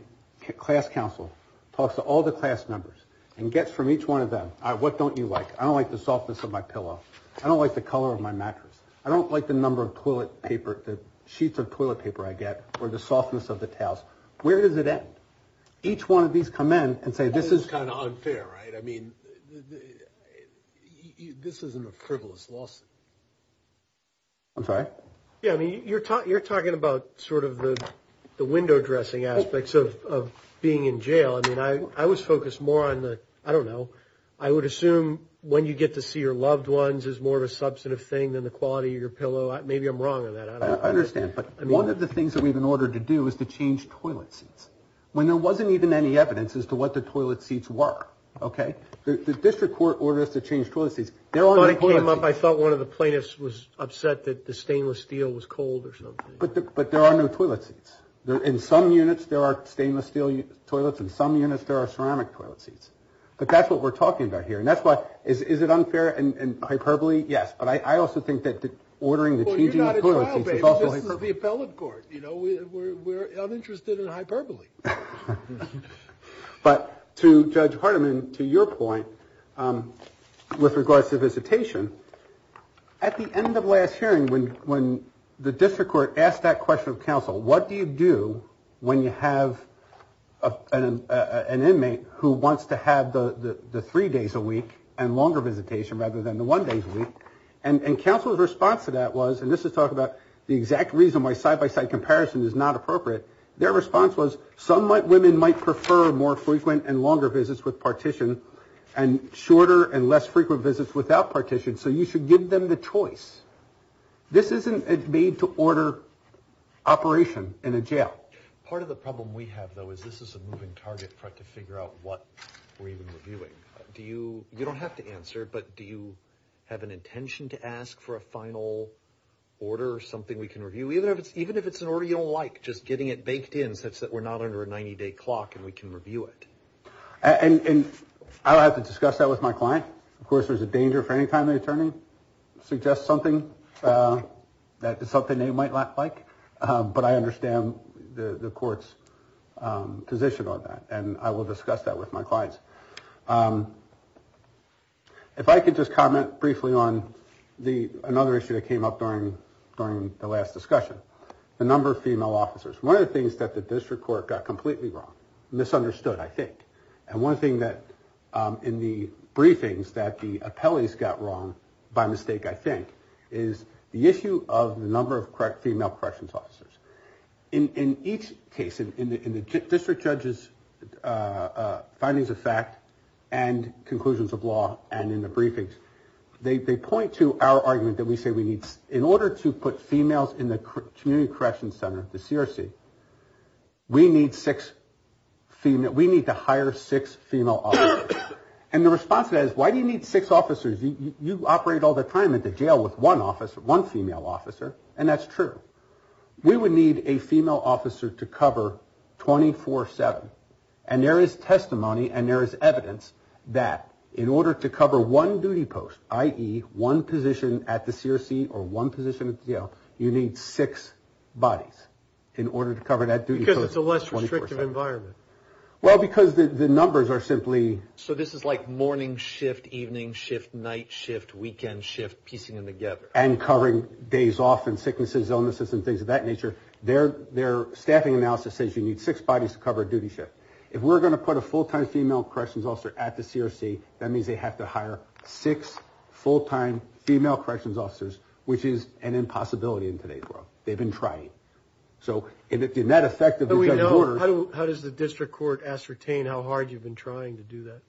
class council talks to all the class members and gets from each one of them, what don't you like? I don't like the softness of my pillow. I don't like the color of my mattress. I don't like the number of toilet paper, the sheets of toilet paper I get, or the softness of the towels. Where does it end? Each one of these come in and say this is kind of unfair, right? I mean, this isn't a frivolous lawsuit. I'm sorry? Yeah, I mean, you're talking about sort of the window dressing aspects of being in jail. I mean, I was focused more on the, I don't know, I would assume when you get to see your loved ones is more of a substantive thing than the quality of your pillow. Maybe I'm wrong on that. I don't know. I understand. But one of the things that we've been ordered to do is to change toilet seats when there wasn't even any evidence as to what the toilet seats were, okay? The district court ordered us to change toilet seats. When it came up, I thought one of the plaintiffs was upset that the stainless steel was cold or something. But there are no toilet seats. In some units, there are stainless steel toilets. In some units, there are ceramic toilet seats. But that's what we're talking about here. And that's why, is it unfair and hyperbole? Yes. But I also think that ordering the changing of toilet seats is also hyperbole. Well, you're not in trial, baby. This is the appellate court. You know, we're uninterested in hyperbole. But to Judge Hardiman, to your point with regards to visitation, at the end of last hearing when the district court asked that question of counsel, what do you do when you have an inmate who wants to have the three days a week and longer visitation rather than the one days a week? And counsel's response to that was, and this is talking about the exact reason why side-by-side comparison is not appropriate, their response was some women might prefer more frequent and longer visits with partition and shorter and less frequent visits without partition. So you should give them the choice. This isn't a made-to-order operation in a jail. Part of the problem we have, though, is this is a moving target for us to figure out what we're even reviewing. You don't have to answer, but do you have an intention to ask for a final order or something we can review, even if it's an order you don't like, just getting it baked in such that we're not under a 90-day clock and we can review it? And I'll have to discuss that with my client. Of course, there's a danger for any time the attorney suggests something that is something they might like, but I understand the court's position on that, and I will discuss that with my clients. If I could just comment briefly on another issue that came up during the last discussion, the number of female officers. One of the things that the district court got completely wrong, misunderstood, I think, and one thing that in the briefings that the appellees got wrong, by mistake, I think, is the issue of the number of female corrections officers. In each case, in the district judge's findings of fact and conclusions of law and in the briefings, they point to our argument that we say we need, in order to put females in the community corrections center, the CRC, we need to hire six female officers. And the response to that is, why do you need six officers? You operate all the time at the jail with one female officer, and that's true. We would need a female officer to cover 24-7, and there is testimony and there is evidence that in order to cover one duty post, i.e., one position at the CRC or one position at the jail, you need six bodies in order to cover that duty post 24-7. Because it's a less restrictive environment. Well, because the numbers are simply... So this is like morning shift, evening shift, night shift, weekend shift, piecing them together. And covering days off and sicknesses, illnesses and things of that nature. Their staffing analysis says you need six bodies to cover a duty shift. If we're going to put a full-time female corrections officer at the CRC, that means they have to hire six full-time female corrections officers, which is an impossibility in today's world. They've been trying. So in that effect... How does the district court ascertain how hard you've been trying to do that?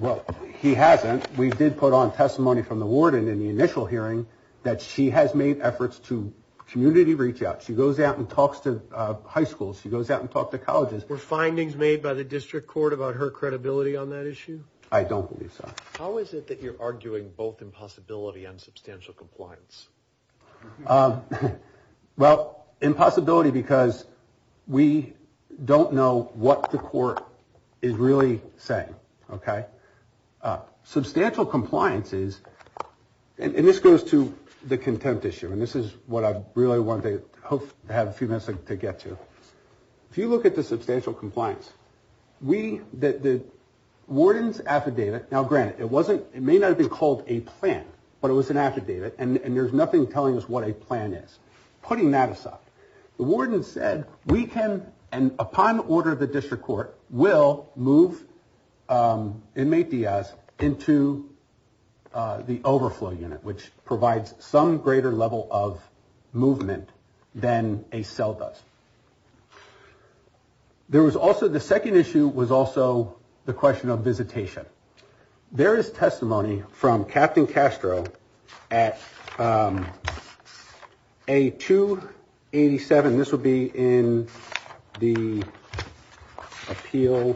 Well, he hasn't. We did put on testimony from the warden in the initial hearing that she has made efforts to community reach out. She goes out and talks to high schools. She goes out and talks to colleges. Were findings made by the district court about her credibility on that issue? I don't believe so. How is it that you're arguing both impossibility and substantial compliance? Well, impossibility because we don't know what the court is really saying, okay? Substantial compliance is... And this goes to the contempt issue, and this is what I really wanted to have a few minutes to get to. If you look at the substantial compliance, the warden's affidavit... Now, granted, it may not have been called a plan, but it was an affidavit, and there's nothing telling us what a plan is. Putting that aside, the warden said, we can, and upon order of the district court, will move inmate Diaz into the overflow unit, which provides some greater level of movement than a cell does. There was also... The second issue was also the question of visitation. There is testimony from Captain Castro at A287. This would be in the appeal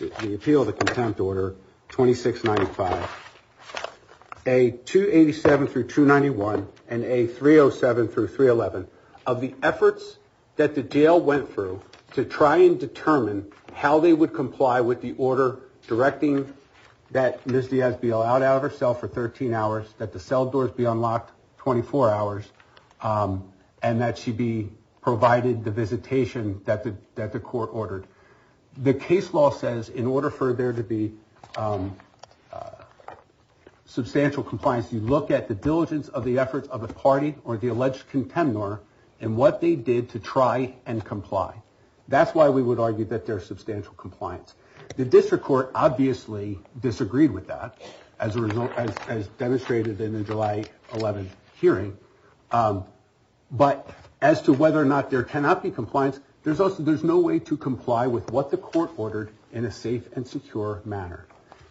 of the contempt order, 2695. A287 through 291 and A307 through 311. Of the efforts that the jail went through to try and determine how they would comply with the order directing that Ms. Diaz be allowed out of her cell for 13 hours, that the cell doors be unlocked 24 hours, and that she be provided the visitation that the court ordered. The case law says in order for there to be substantial compliance, you look at the diligence of the efforts of a party or the alleged contempt order and what they did to try and comply. That's why we would argue that there's substantial compliance. The district court obviously disagreed with that, as demonstrated in the July 11th hearing. But as to whether or not there cannot be compliance, there's no way to comply with what the court ordered in a safe and secure manner.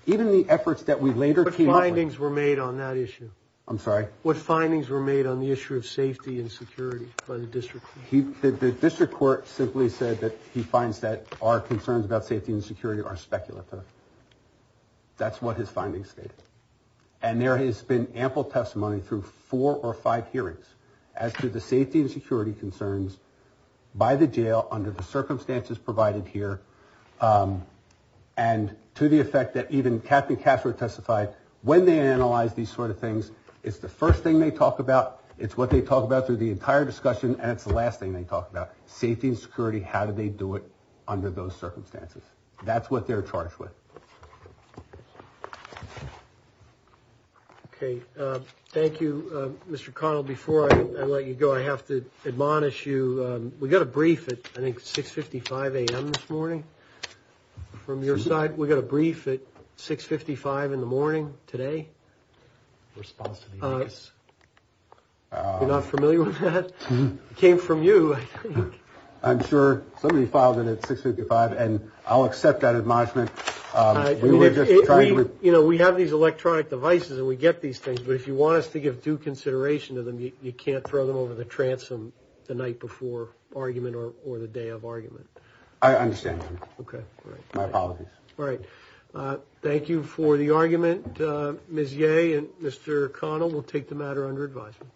Even the efforts that we later came up with. What findings were made on that issue? I'm sorry? What findings were made on the issue of safety and security by the district court? The district court simply said that he finds that our concerns about safety and security are speculative. That's what his findings state. And there has been ample testimony through four or five hearings as to the safety and security concerns by the jail under the circumstances provided here and to the effect that even Kathy Castro testified when they analyzed these sort of things. It's the first thing they talk about. It's what they talk about through the entire discussion. And it's the last thing they talk about safety and security. How did they do it under those circumstances? That's what they're charged with. Okay. Thank you, Mr. Connell. Before I let you go, I have to admonish you. We got a brief at, I think, 6.55 a.m. this morning from your side. We got a brief at 6.55 in the morning today. You're not familiar with that? It came from you, I think. I'm sure. Somebody filed it at 6.55, and I'll accept that admonishment. You know, we have these electronic devices, and we get these things, but if you want us to give due consideration to them, you can't throw them over the transom the night before argument or the day of argument. I understand, sir. Okay. My apologies. All right. Thank you for the argument, Ms. Yeh, and Mr. Connell. We'll take the matter under advisement.